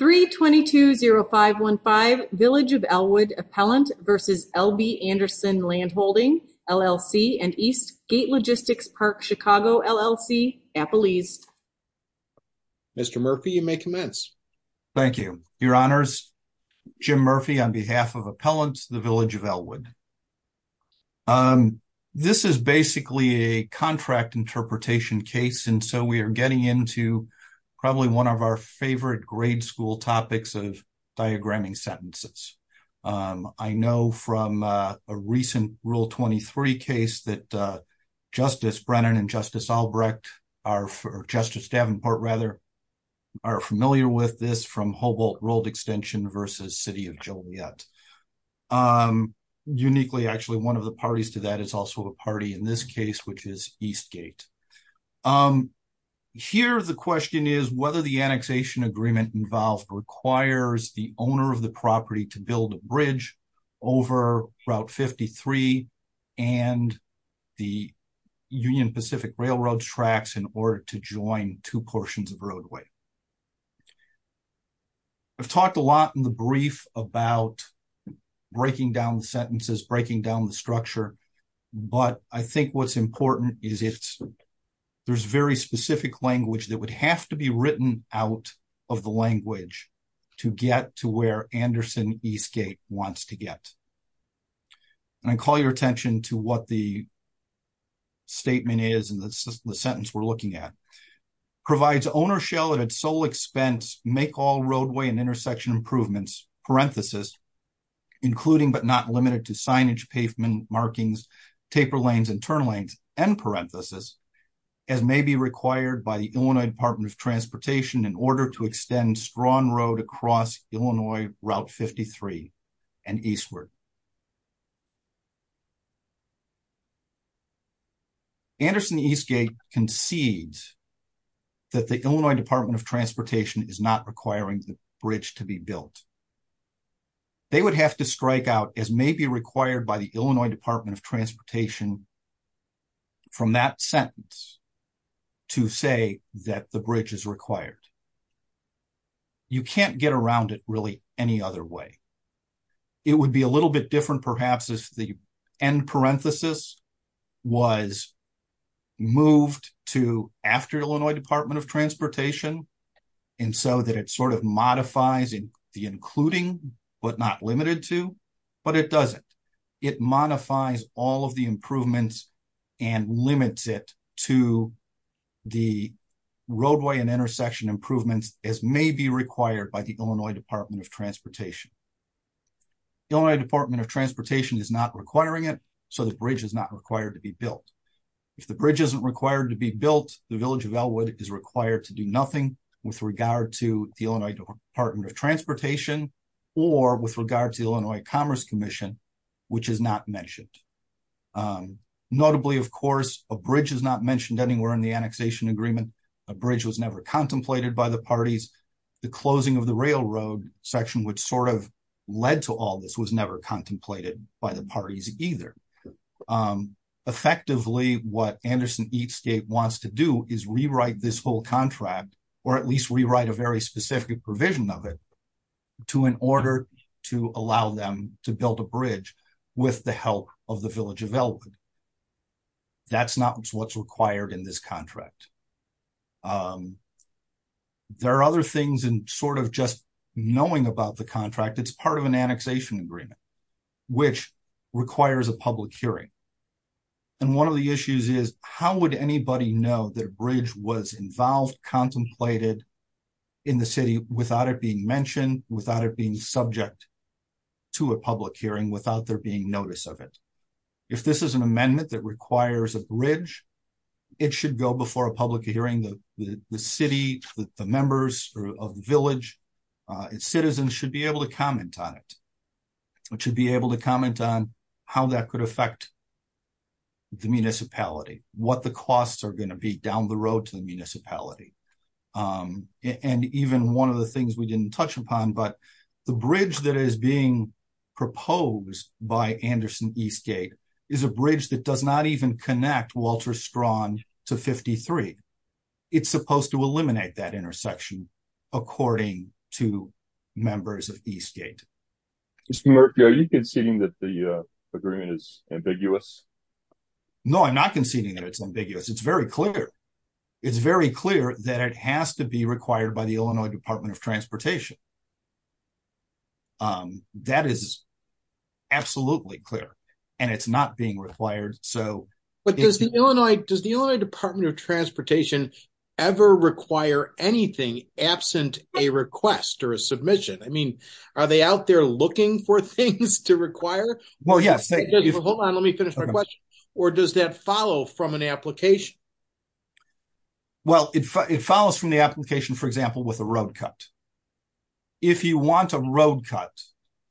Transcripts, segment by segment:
3220515 Village of Elwood Appellant v. LB Andersen Land Holding, LLC and East Gate Logistics Park, Chicago, LLC, Appalachia Mr. Murphy, you may commence. Thank you. Your Honors, Jim Murphy on behalf of Appellants, the Village of Elwood. This is basically a contract interpretation case, and so we are getting into probably one of our favorite grade school topics of diagramming sentences. I know from a recent Rule 23 case that Justice Brennan and Justice Albrecht, or Justice Davenport rather, are familiar with this from Hobalt World Extension v. City of Joliet. Uniquely, actually, one of the parties to that is also a party in this case, which is East Gate. Here, the question is whether the annexation agreement involved requires the owner of the property to build a bridge over Route 53 and the Union Pacific Railroad tracks in order to join two portions of roadway. I've talked a lot in the brief about breaking down the sentences, breaking down the structure, but I think what's important is there's very specific language that would have to be written out of the language to get to where Andersen East Gate wants to get. And I call your attention to what the statement is in the sentence we're looking at. Andersen East Gate concedes that the Illinois Department of Transportation is not requiring the bridge to be built. They would have to strike out as may be required by the Illinois Department of Transportation from that sentence to say that the bridge is required. You can't get around it really any other way. It would be a little bit different, perhaps, if the end parenthesis was moved to after Illinois Department of Transportation, and so that it sort of modifies the including but not limited to, but it doesn't. It modifies all of the improvements and limits it to the roadway and intersection improvements as may be required by the Illinois Department of Transportation. The Illinois Department of Transportation is not requiring it, so the bridge is not required to be built. If the bridge isn't required to be built, the Village of Elwood is required to do nothing with regard to the Illinois Department of Transportation or with regard to Illinois Commerce Commission, which is not mentioned. Notably, of course, a bridge is not mentioned anywhere in the annexation agreement. A bridge was never contemplated by the parties. The closing of the railroad section, which sort of led to all this, was never contemplated by the parties either. Effectively, what Anderson Eatscape wants to do is rewrite this whole contract, or at least rewrite a very specific provision of it, to in order to allow them to build a bridge with the help of the Village of Elwood. That's not what's required in this contract. There are other things in sort of just knowing about the contract. It's part of an annexation agreement, which requires a public hearing. And one of the issues is, how would anybody know that a bridge was involved, contemplated in the city without it being mentioned, without it being subject to a public hearing, without there being notice of it? If this is an amendment that requires a bridge, it should go before a public hearing. The city, the members of the Village, its citizens should be able to comment on it. It should be able to comment on how that could affect the municipality, what the costs are going to be down the road to the municipality. And even one of the things we didn't touch upon, but the bridge that is being proposed by Anderson Eastgate is a bridge that does not even connect Walter Strawn to 53. It's supposed to eliminate that intersection, according to members of Eastgate. Mr. Murphy, are you conceding that the agreement is ambiguous? No, I'm not conceding that it's ambiguous. It's very clear. It's very clear that it has to be required by the Illinois Department of Transportation. That is absolutely clear, and it's not being required. But does the Illinois Department of Transportation ever require anything absent a request or a submission? I mean, are they out there looking for things to require? Hold on, let me finish my question. Or does that follow from an application? Well, it follows from the application, for example, with a road cut. If you want a road cut,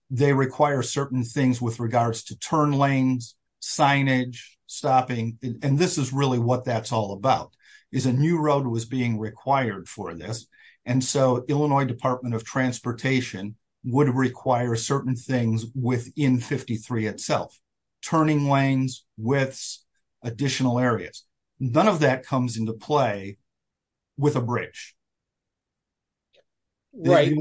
they require certain things with regards to turn lanes, signage, stopping, and this is really what that's all about. A new road was being required for this, and so Illinois Department of Transportation would require certain things within 53 itself. Turning lanes, widths, additional areas. None of that comes into play with a bridge. Right.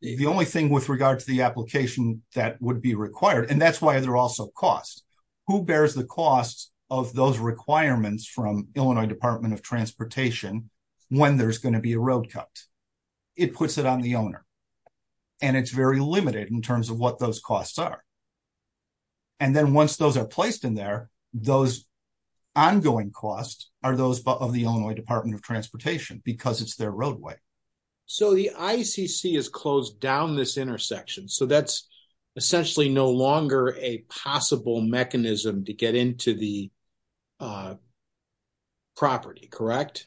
The only thing with regard to the application that would be required, and that's why there are also costs. Who bears the costs of those requirements from Illinois Department of Transportation when there's going to be a road cut? It puts it on the owner, and it's very limited in terms of what those costs are. And then once those are placed in there, those ongoing costs are those of the Illinois Department of Transportation because it's their roadway. So the ICC has closed down this intersection, so that's essentially no longer a possible mechanism to get into the property, correct?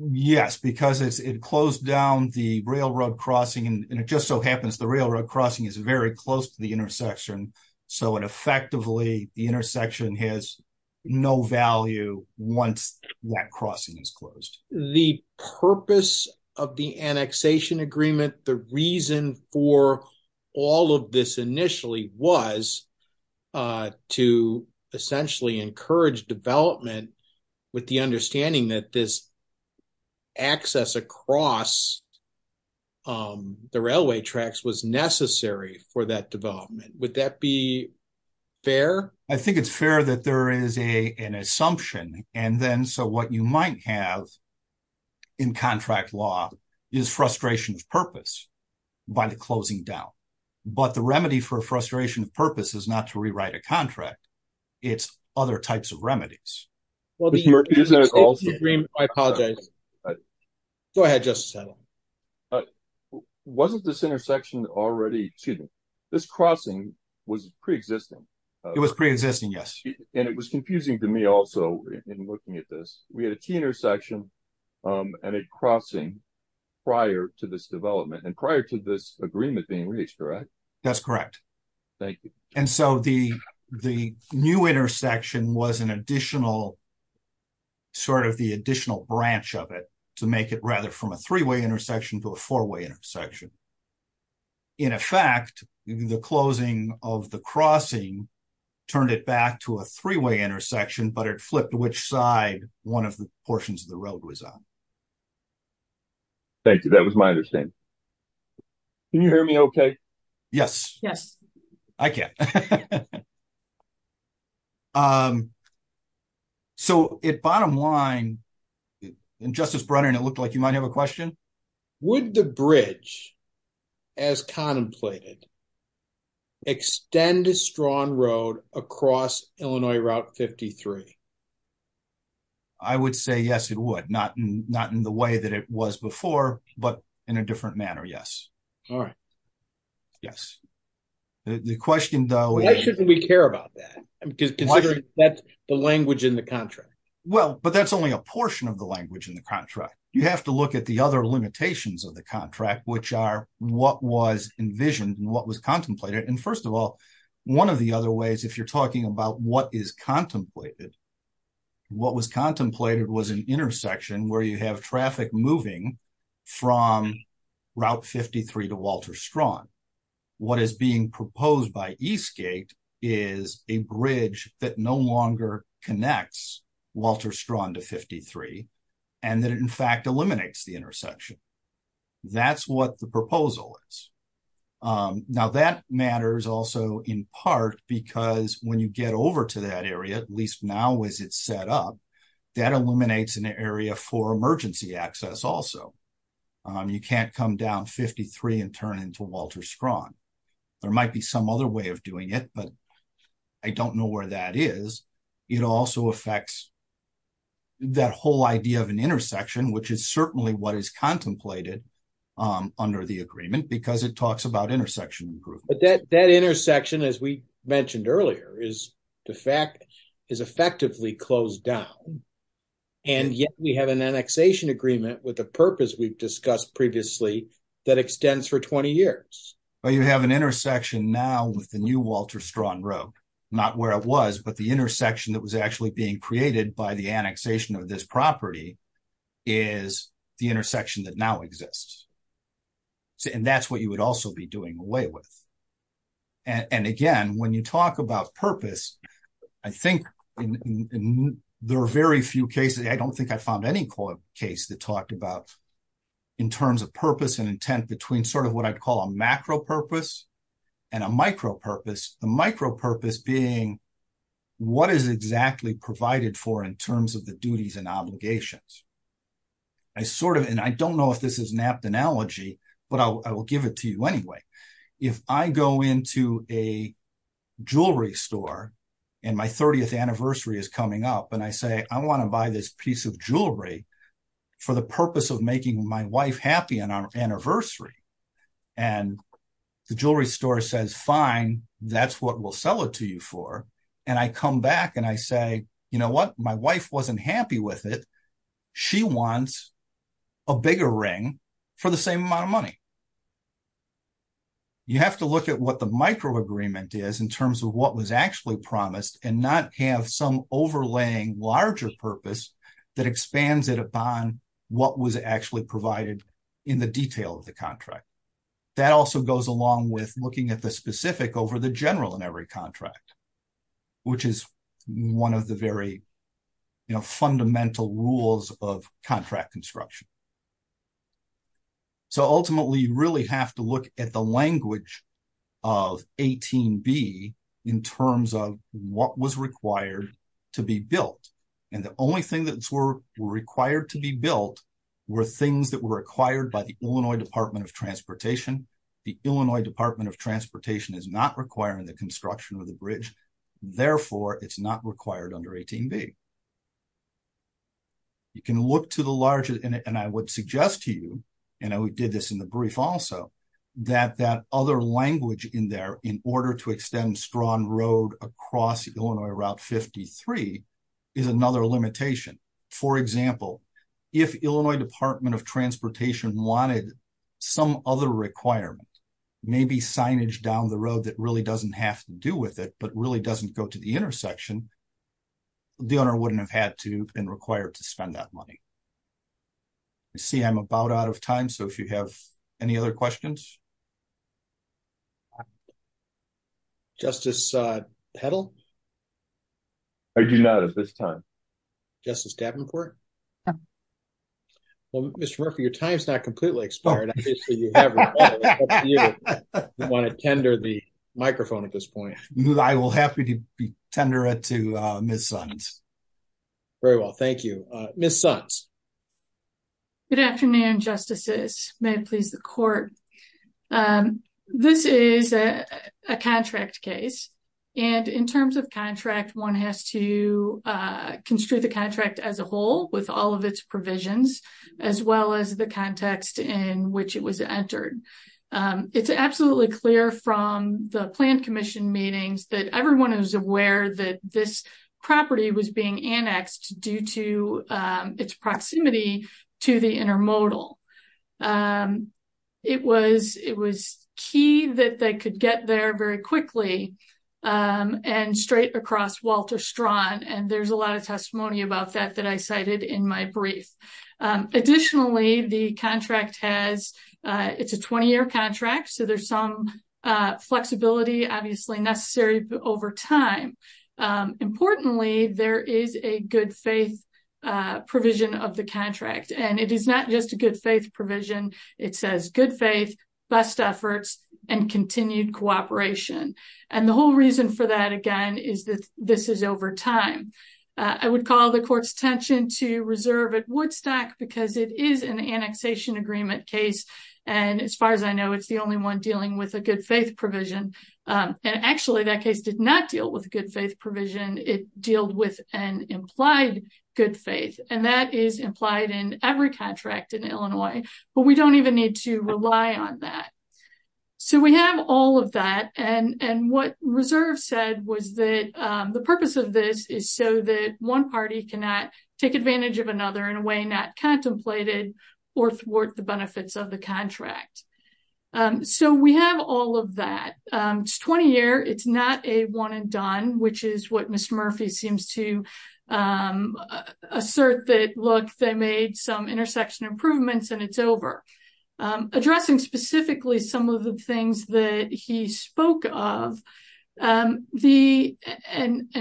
Yes, because it closed down the railroad crossing, and it just so happens the railroad crossing is very close to the intersection. So it effectively, the intersection has no value once that crossing is closed. The purpose of the annexation agreement, the reason for all of this initially was to essentially encourage development with the understanding that this access across the railway tracks was necessary for that development. Would that be fair? I think it's fair that there is an assumption, and then so what you might have in contract law is frustration of purpose by the closing down. But the remedy for frustration of purpose is not to rewrite a contract. It's other types of remedies. I apologize. Go ahead, Justice Edelman. Wasn't this intersection already, excuse me, this crossing was pre-existing? Pre-existing, yes. And it was confusing to me also in looking at this. We had a T intersection and a crossing prior to this development and prior to this agreement being reached, correct? That's correct. Thank you. And so the new intersection was an additional, sort of the additional branch of it to make it rather from a three-way intersection to a four-way intersection. In effect, the closing of the crossing turned it back to a three-way intersection, but it flipped which side one of the portions of the road was on. Thank you. That was my understanding. Can you hear me okay? Yes. I can. So at bottom line, and Justice Brennan, it looked like you might have a question. Would the bridge, as contemplated, extend a strong road across Illinois Route 53? I would say yes, it would. Not in the way that it was before, but in a different manner, yes. All right. Yes. Why shouldn't we care about that, considering that's the language in the contract? Well, but that's only a portion of the language in the contract. You have to look at the other limitations of the contract, which are what was envisioned and what was contemplated. First of all, one of the other ways, if you're talking about what is contemplated, what was contemplated was an intersection where you have traffic moving from Route 53 to Walter Strawn. What is being proposed by Eastgate is a bridge that no longer connects Walter Strawn to 53, and that it in fact eliminates the intersection. That's what the proposal is. Now that matters also in part because when you get over to that area, at least now as it's set up, that eliminates an area for emergency access also. You can't come down 53 and turn into Walter Strawn. There might be some other way of doing it, but I don't know where that is. It also affects that whole idea of an intersection, which is certainly what is contemplated under the agreement because it talks about intersection improvement. But that intersection, as we mentioned earlier, is in fact, is effectively closed down. And yet we have an annexation agreement with the purpose we've discussed previously that extends for 20 years. But you have an intersection now with the new Walter Strawn Road, not where it was, but the intersection that was actually being created by the annexation of this property is the intersection that now exists. And that's what you would also be doing away with. And again, when you talk about purpose, I think there are very few cases, I don't think I found any case that talked about in terms of purpose and intent between sort of what I'd call a macro purpose and a micro purpose. The micro purpose being what is exactly provided for in terms of the duties and obligations. I sort of, and I don't know if this is an apt analogy, but I will give it to you anyway. If I go into a jewelry store and my 30th anniversary is coming up and I say, I want to buy this piece of jewelry for the purpose of making my wife happy on our anniversary. And the jewelry store says, fine, that's what we'll sell it to you for. And I come back and I say, you know what, my wife wasn't happy with it. She wants a bigger ring for the same amount of money. You have to look at what the micro agreement is in terms of what was actually promised and not have some overlaying larger purpose that expands it upon what was actually provided in the detail of the contract. That also goes along with looking at the specific over the general in every contract, which is one of the very fundamental rules of contract construction. So ultimately, you really have to look at the language of 18B in terms of what was required to be built. And the only thing that were required to be built were things that were acquired by the Illinois Department of Transportation. The Illinois Department of Transportation is not requiring the construction of the bridge. Therefore, it's not required under 18B. You can look to the larger and I would suggest to you, and we did this in the brief also, that that other language in there in order to extend strong road across Illinois Route 53 is another limitation. For example, if Illinois Department of Transportation wanted some other requirement, maybe signage down the road that really doesn't have to do with it, but really doesn't go to the intersection. The owner wouldn't have had to and required to spend that money. I see I'm about out of time, so if you have any other questions. Justice Petal? I do not at this time. Justice Davenport? Well, Mr. Murphy, your time's not completely expired. I want to tender the microphone at this point. I will be happy to tender it to Ms. Sons. Very well, thank you. Ms. Sons? Good afternoon, Justices. May it please the Court. This is a contract case, and in terms of contract, one has to construe the contract as a whole with all of its provisions, as well as the context in which it was entered. It's absolutely clear from the planned commission meetings that everyone is aware that this property was being annexed due to its proximity to the intermodal. It was key that they could get there very quickly and straight across Walter Strawn, and there's a lot of testimony about that that I cited in my brief. Additionally, the contract has, it's a 20-year contract, so there's some flexibility obviously necessary over time. Importantly, there is a good faith provision of the contract, and it is not just a good faith provision. It says good faith, best efforts, and continued cooperation. And the whole reason for that, again, is that this is over time. I would call the Court's attention to reserve at Woodstock because it is an annexation agreement case, and as far as I know, it's the only one dealing with a good faith provision. And actually, that case did not deal with a good faith provision. It dealed with an implied good faith, and that is implied in every contract in Illinois, but we don't even need to rely on that. So we have all of that, and what reserve said was that the purpose of this is so that one party cannot take advantage of another in a way not contemplated or thwart the benefits of the contract. So we have all of that. It's 20-year. It's not a one and done, which is what Ms. Murphy seems to assert that, look, they made some intersection improvements and it's over. Addressing specifically some of the things that he spoke of, and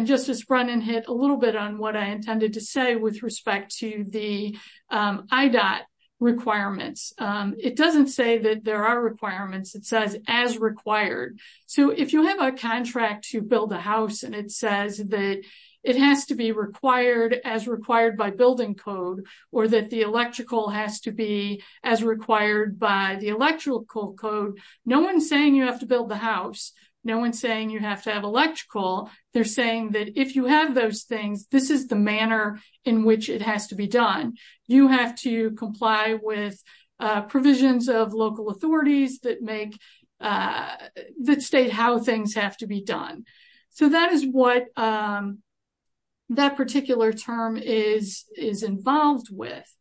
Justice Brennan hit a little bit on what I intended to say with respect to the IDOT requirements. It doesn't say that there are requirements. It says as required. So if you have a contract to build a house and it says that it has to be required as required by building code or that the electrical has to be as required by the electrical code, no one's saying you have to build the house. No one's saying you have to have electrical. They're saying that if you have those things, this is the manner in which it has to be done. You have to comply with provisions of local authorities that state how things have to be done. So that is what that particular term is involved with.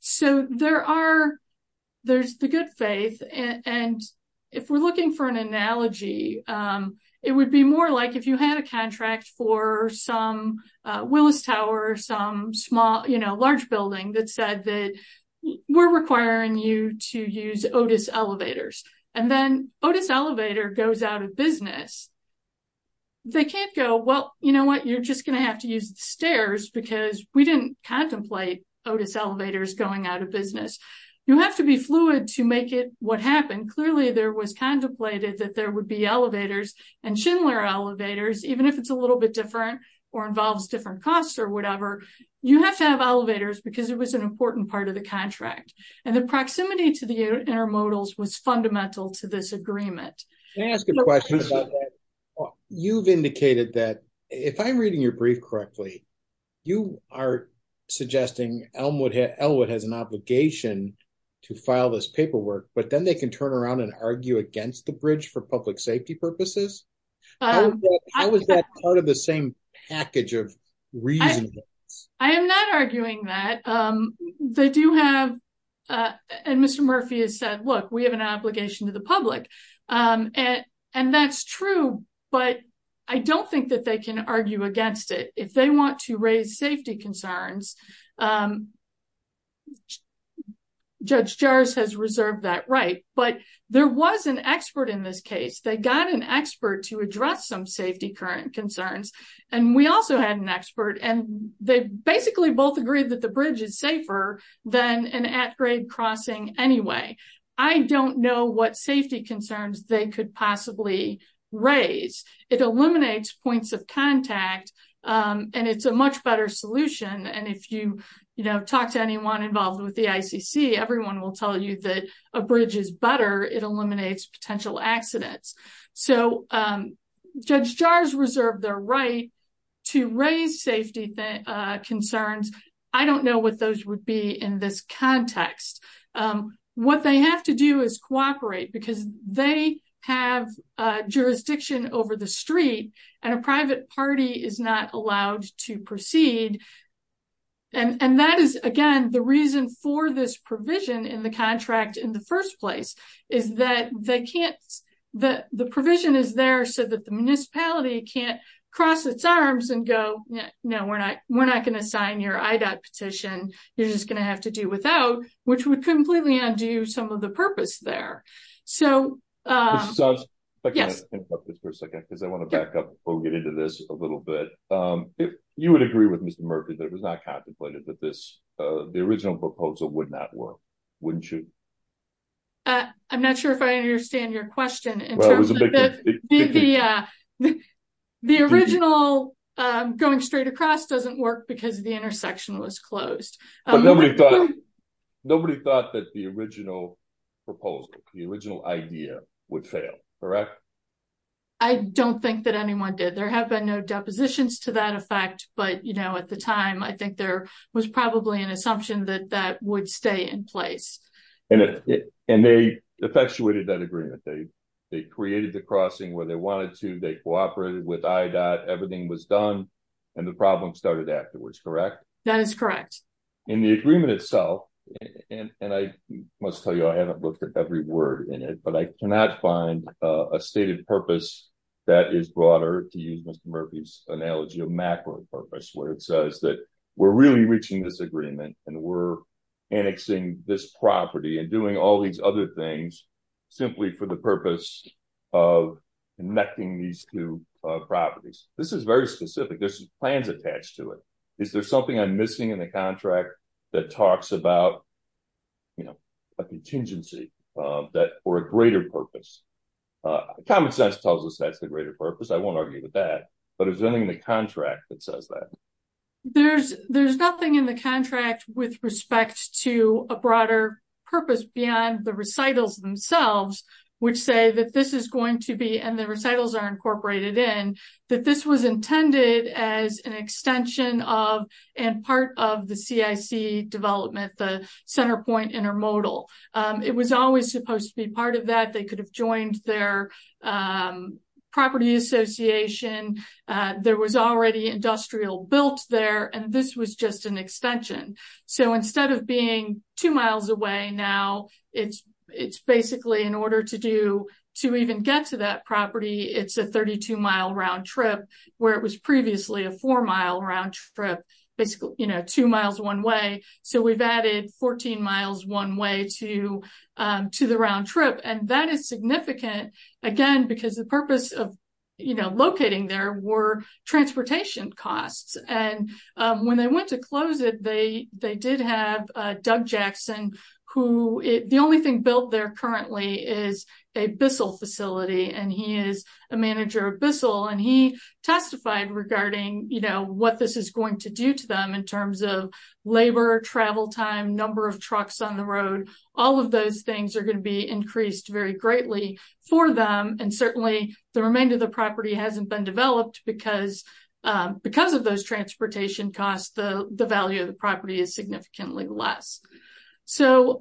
So there's the good faith. And if we're looking for an analogy, it would be more like if you had a contract for some Willis Tower, some large building that said that we're requiring you to use Otis elevators. And then Otis elevator goes out of business. They can't go, well, you know what, you're just going to have to use the stairs because we didn't contemplate Otis elevators going out of business. You have to be fluid to make it what happened. Clearly, there was contemplated that there would be elevators and Schindler elevators, even if it's a little bit different or involves different costs or whatever. You have to have elevators because it was an important part of the contract and the proximity to the intermodals was fundamental to this agreement. Can I ask a question about that? You've indicated that if I'm reading your brief correctly, you are suggesting Elwood has an obligation to file this paperwork, but then they can turn around and argue against the bridge for public safety purposes? How is that part of the same package of reasoning? I am not arguing that. They do have, and Mr. Murphy has said, look, we have an obligation to the public. And that's true, but I don't think that they can argue against it. If they want to raise safety concerns, Judge Jars has reserved that right, but there was an expert in this case. They got an expert to address some safety current concerns. And we also had an expert and they basically both agreed that the bridge is safer than an at grade crossing anyway. I don't know what safety concerns they could possibly raise. It eliminates points of contact and it's a much better solution. And if you talk to anyone involved with the ICC, everyone will tell you that a bridge is better. It eliminates potential accidents. So Judge Jars reserved their right to raise safety concerns. I don't know what those would be in this context. What they have to do is cooperate because they have jurisdiction over the street and a private party is not allowed to proceed. And that is, again, the reason for this provision in the contract in the first place is that the provision is there so that the municipality can't cross its arms and go, No, we're not. We're not going to sign your IDOT petition. You're just going to have to do without, which would completely undo some of the purpose there. So, yes, because I want to get into this a little bit. You would agree with Mr. Murphy that it was not contemplated that this the original proposal would not work, wouldn't you? I'm not sure if I understand your question. The original going straight across doesn't work because the intersection was closed. Nobody thought that the original proposal, the original idea would fail, correct? I don't think that anyone did. There have been no depositions to that effect. But, you know, at the time, I think there was probably an assumption that that would stay in place. And they effectuated that agreement. They created the crossing where they wanted to. They cooperated with IDOT. Everything was done and the problem started afterwards, correct? That is correct. In the agreement itself, and I must tell you, I haven't looked at every word in it, but I cannot find a stated purpose that is broader to use Mr. Murphy's analogy of macro purpose, where it says that we're really reaching this agreement and we're annexing this property and doing all these other things simply for the purpose of connecting these two properties. This is very specific. There's plans attached to it. Is there something I'm missing in the contract that talks about, you know, a contingency for a greater purpose? Common sense tells us that's the greater purpose. I won't argue with that. But is there anything in the contract that says that? There's nothing in the contract with respect to a broader purpose beyond the recitals themselves, which say that this is going to be, and the recitals are incorporated in, that this was intended as an extension of and part of the CIC development, the Centerpoint Intermodal. It was always supposed to be part of that. They could have joined their property association. There was already industrial built there, and this was just an extension. So instead of being two miles away now, it's basically in order to even get to that property, it's a 32-mile round trip, where it was previously a four-mile round trip, basically two miles one way. So we've added 14 miles one way to the round trip. And that is significant, again, because the purpose of locating there were transportation costs. And when they went to close it, they did have Doug Jackson, who the only thing built there currently is a Bissell facility, and he is a manager of Bissell. And he testified regarding, you know, what this is going to do to them in terms of labor, travel time, number of trucks on the road. All of those things are going to be increased very greatly for them, and certainly the remainder of the property hasn't been developed because of those transportation costs, the value of the property is significantly less. So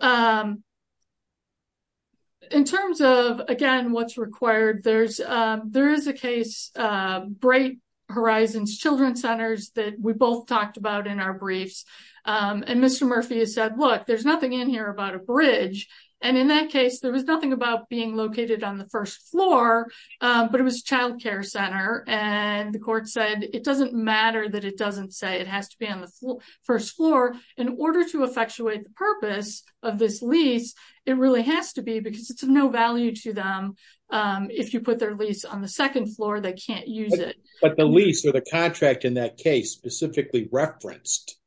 in terms of, again, what's required, there is a case, Bright Horizons Children's Centers that we both talked about in our briefs. And Mr. Murphy has said, look, there's nothing in here about a bridge. And in that case, there was nothing about being located on the first floor, but it was child care center. And the court said, it doesn't matter that it doesn't say it has to be on the first floor. In order to effectuate the purpose of this lease, it really has to be because it's of no value to them. If you put their lease on the second floor, they can't use it. But the lease or the contract in that case specifically referenced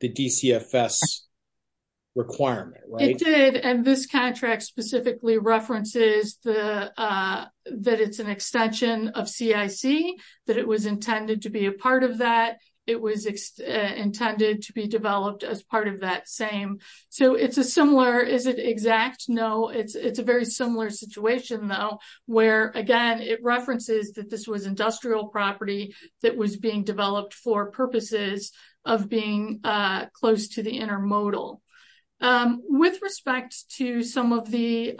the DCFS requirement, right? It did, and this contract specifically references that it's an extension of CIC, that it was intended to be a part of that. It was intended to be developed as part of that same. So it's a similar, is it exact? No, it's a very similar situation, though, where, again, it references that this was industrial property that was being developed for purposes of being close to the intermodal. With respect to some of the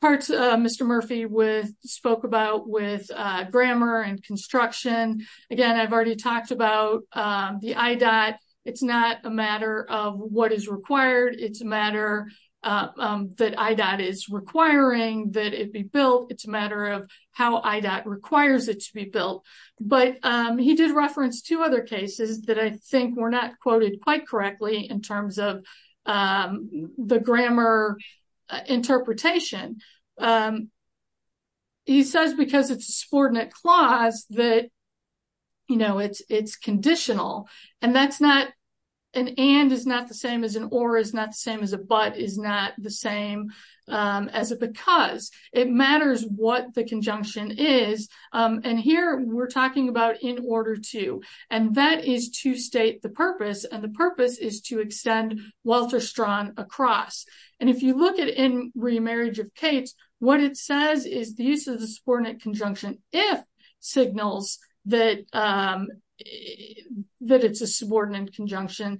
parts Mr. Murphy spoke about with grammar and construction, again, I've already talked about the IDOT. It's not a matter of what is required. It's a matter that IDOT is requiring that it be built. It's a matter of how IDOT requires it to be built. But he did reference two other cases that I think were not quoted quite correctly in terms of the grammar interpretation. He says because it's a subordinate clause that, you know, it's conditional. And that's not, an and is not the same as an or is not the same as a but is not the same as a because. It matters what the conjunction is. And here we're talking about in order to. And that is to state the purpose and the purpose is to extend Walter Strawn across. And if you look at In Remarriage of Cates, what it says is the use of the subordinate conjunction if signals that it's a subordinate conjunction.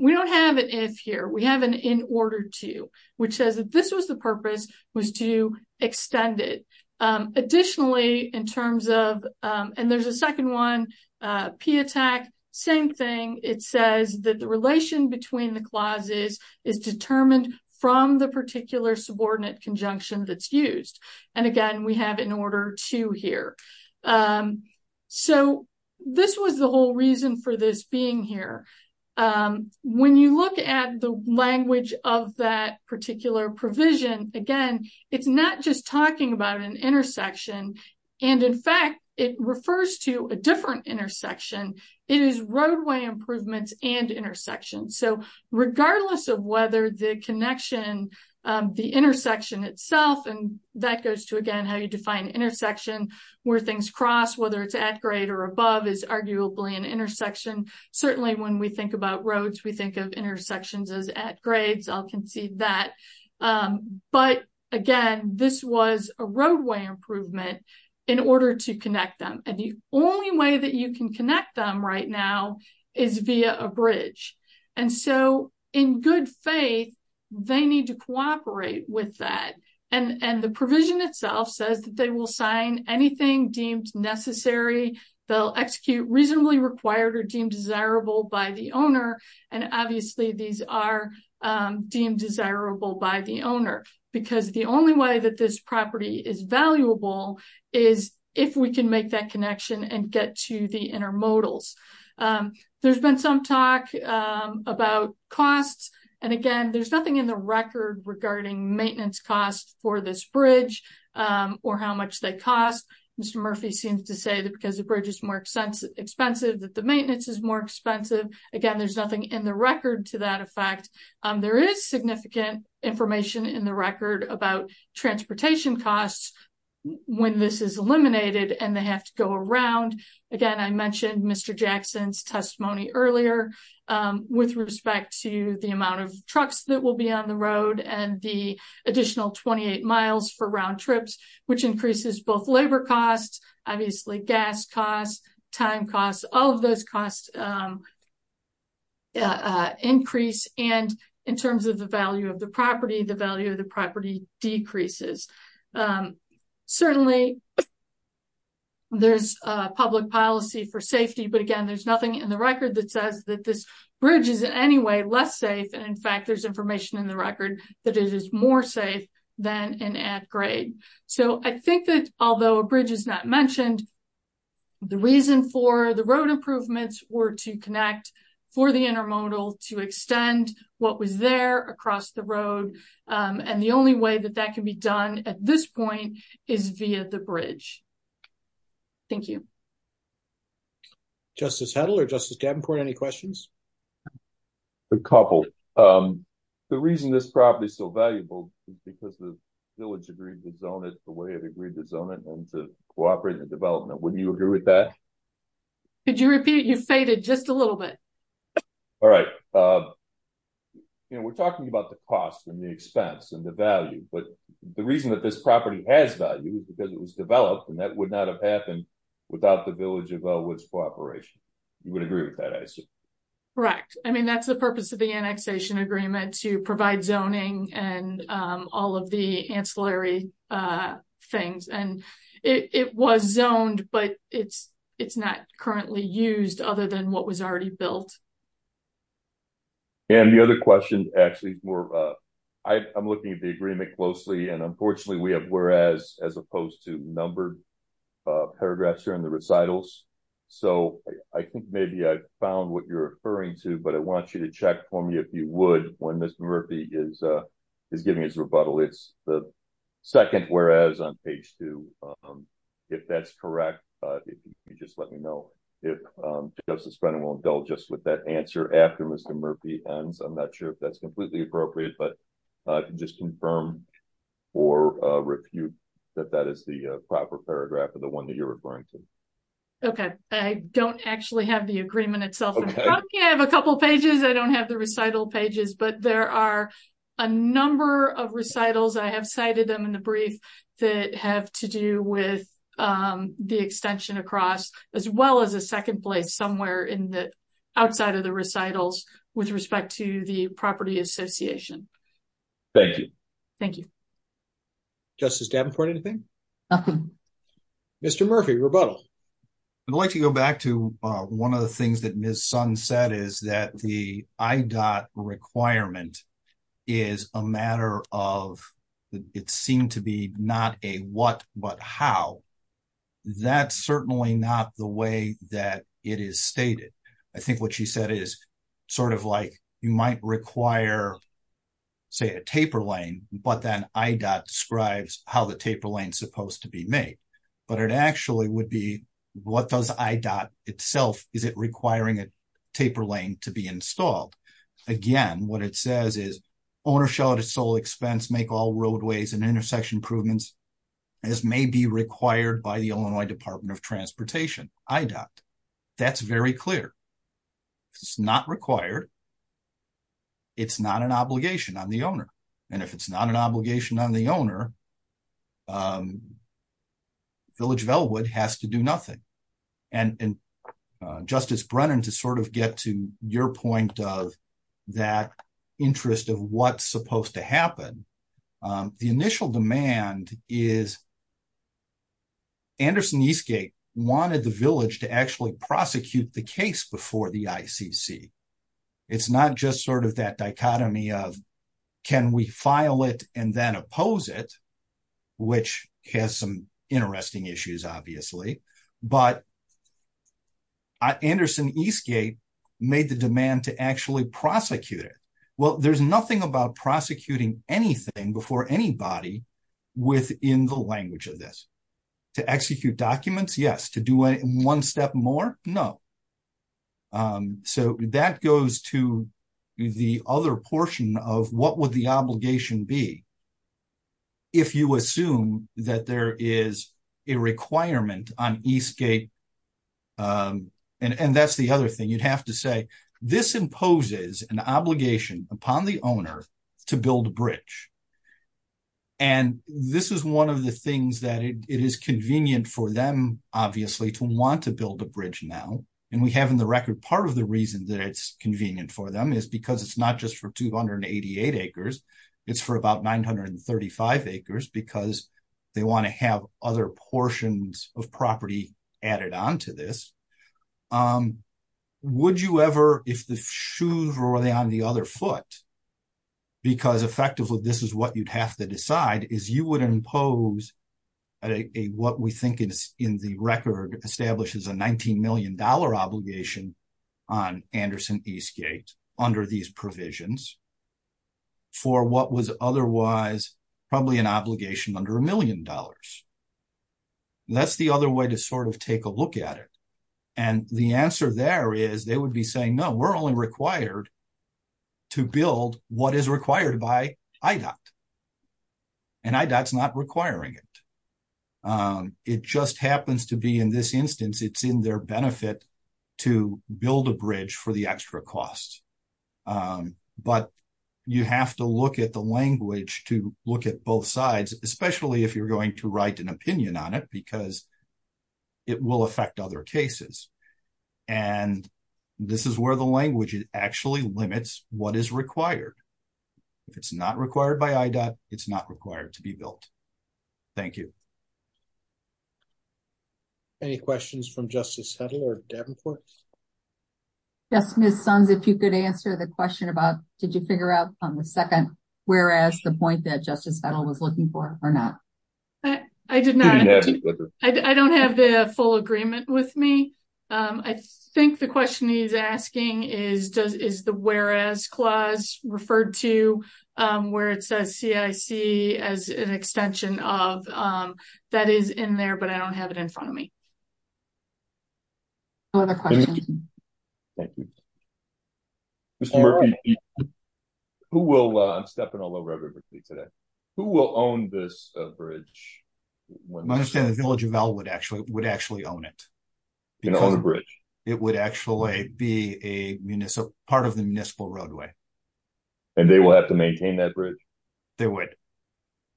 We don't have an if here. We have an in order to, which says that this was the purpose was to extend it. Additionally, in terms of and there's a second one, P-ATT&CK, same thing. It says that the relation between the clauses is determined from the particular subordinate conjunction that's used. And again, we have in order to here. So this was the whole reason for this being here. When you look at the language of that particular provision, again, it's not just talking about an intersection. And in fact, it refers to a different intersection. It is roadway improvements and intersections. So regardless of whether the connection, the intersection itself, and that goes to, again, how you define intersection where things cross, whether it's at grade or above is arguably an intersection. Certainly, when we think about roads, we think of intersections as at grades. I'll concede that. But again, this was a roadway improvement in order to connect them. And the only way that you can connect them right now is via a bridge. And so in good faith, they need to cooperate with that. And the provision itself says that they will sign anything deemed necessary. They'll execute reasonably required or deemed desirable by the owner. And obviously, these are deemed desirable by the owner because the only way that this property is valuable is if we can make that connection and get to the intermodals. There's been some talk about costs. And again, there's nothing in the record regarding maintenance costs for this bridge or how much they cost. Mr. Murphy seems to say that because the bridge is more expensive, that the maintenance is more expensive. Again, there's nothing in the record to that effect. There is significant information in the record about transportation costs when this is eliminated and they have to go around. Again, I mentioned Mr. Jackson's testimony earlier with respect to the amount of trucks that will be on the road and the additional 28 miles for round trips, which increases both labor costs, obviously gas costs, time costs. All of those costs increase. And in terms of the value of the property, the value of the property decreases. Certainly, there's public policy for safety. But again, there's nothing in the record that says that this bridge is in any way less safe. And in fact, there's information in the record that it is more safe than an add grade. So I think that although a bridge is not mentioned, the reason for the road improvements were to connect for the intermodal to extend what was there across the road. And the only way that that can be done at this point is via the bridge. Thank you. Justice Heddle or Justice Davenport, any questions? A couple. The reason this property is so valuable is because the village agreed to zone it the way it agreed to zone it and to cooperate in development. Wouldn't you agree with that? Could you repeat? You faded just a little bit. All right. We're talking about the cost and the expense and the value. But the reason that this property has value is because it was developed and that would not have happened without the village of Elwood's cooperation. You would agree with that? Correct. I mean, that's the purpose of the annexation agreement to provide zoning and all of the ancillary things. And it was zoned, but it's not currently used other than what was already built. And the other question, actually, I'm looking at the agreement closely. And unfortunately, we have whereas as opposed to numbered paragraphs here in the recitals. So I think maybe I found what you're referring to. But I want you to check for me if you would when Mr. Murphy is giving his rebuttal. It's the second whereas on page two. If that's correct, just let me know if Justice Brennan will indulge us with that answer after Mr. Murphy ends. I'm not sure if that's completely appropriate, but just confirm or refute that that is the proper paragraph of the one that you're referring to. OK, I don't actually have the agreement itself. I have a couple of pages. I don't have the recital pages, but there are a number of recitals. I have cited them in the brief that have to do with the extension across as well as a second place somewhere in the outside of the recitals with respect to the property association. Thank you. Thank you. Justice Davenport, anything? Nothing. Mr. Murphy, rebuttal. I'd like to go back to one of the things that Ms. Sun said is that the IDOT requirement is a matter of it seemed to be not a what but how. That's certainly not the way that it is stated. I think what she said is sort of like you might require, say, a taper lane, but then IDOT describes how the taper lane is supposed to be made. But it actually would be what does IDOT itself, is it requiring a taper lane to be installed? Again, what it says is owner shall at his sole expense make all roadways and intersection improvements as may be required by the Illinois Department of Transportation, IDOT. That's very clear. It's not required. It's not an obligation on the owner. And if it's not an obligation on the owner, Village of Ellwood has to do nothing. And Justice Brennan, to sort of get to your point of that interest of what's supposed to happen, the initial demand is Anderson Eastgate wanted the village to actually prosecute the case before the ICC. It's not just sort of that dichotomy of can we file it and then oppose it, which has some interesting issues, obviously. But Anderson Eastgate made the demand to actually prosecute it. Well, there's nothing about prosecuting anything before anybody within the language of this. To execute documents, yes. To do it one step more, no. So that goes to the other portion of what would the obligation be? If you assume that there is a requirement on Eastgate, and that's the other thing you'd have to say, this imposes an obligation upon the owner to build a bridge. And this is one of the things that it is convenient for them, obviously, to want to build a bridge now. And we have in the record part of the reason that it's convenient for them is because it's not just for 288 acres. It's for about 935 acres because they want to have other portions of property added on to this. Would you ever, if the shoes were on the other foot, because effectively this is what you'd have to decide, is you would impose what we think is in the record establishes a $19 million obligation on Anderson Eastgate under these provisions for what was otherwise probably an obligation under a million dollars. That's the other way to sort of take a look at it. And the answer there is they would be saying, no, we're only required to build what is required by IDOT. And IDOT's not requiring it. It just happens to be in this instance, it's in their benefit to build a bridge for the extra cost. But you have to look at the language to look at both sides, especially if you're going to write an opinion on it, because it will affect other cases. And this is where the language actually limits what is required. If it's not required by IDOT, it's not required to be built. Thank you. Any questions from Justice Hedl or Davenport? Yes, Ms. Sons, if you could answer the question about, did you figure out on the second whereas the point that Justice Hedl was looking for or not? I did not. I don't have the full agreement with me. I think the question he's asking is, is the whereas clause referred to where it says CIC as an extension of that is in there, but I don't have it in front of me. No other questions. Thank you. Mr. Murphy, who will, I'm stepping all over everybody today, who will own this bridge? I understand the Village of Elwood would actually own it. It would actually be a part of the municipal roadway. And they will have to maintain that bridge? They would. Is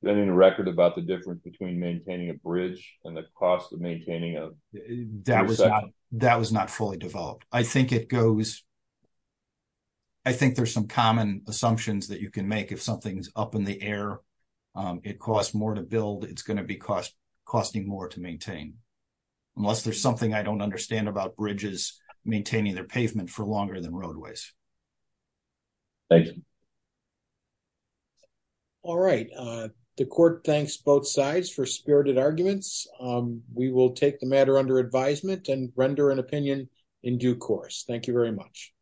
there anything in the record about the difference between maintaining a bridge and the cost of maintaining it? That was not fully developed. I think it goes, I think there's some common assumptions that you can make if something's up in the air. It costs more to build, it's going to be costing more to maintain. Unless there's something I don't understand about bridges maintaining their pavement for longer than roadways. Thank you. All right. The court thanks both sides for spirited arguments. We will take the matter under advisement and render an opinion in due course. Thank you very much.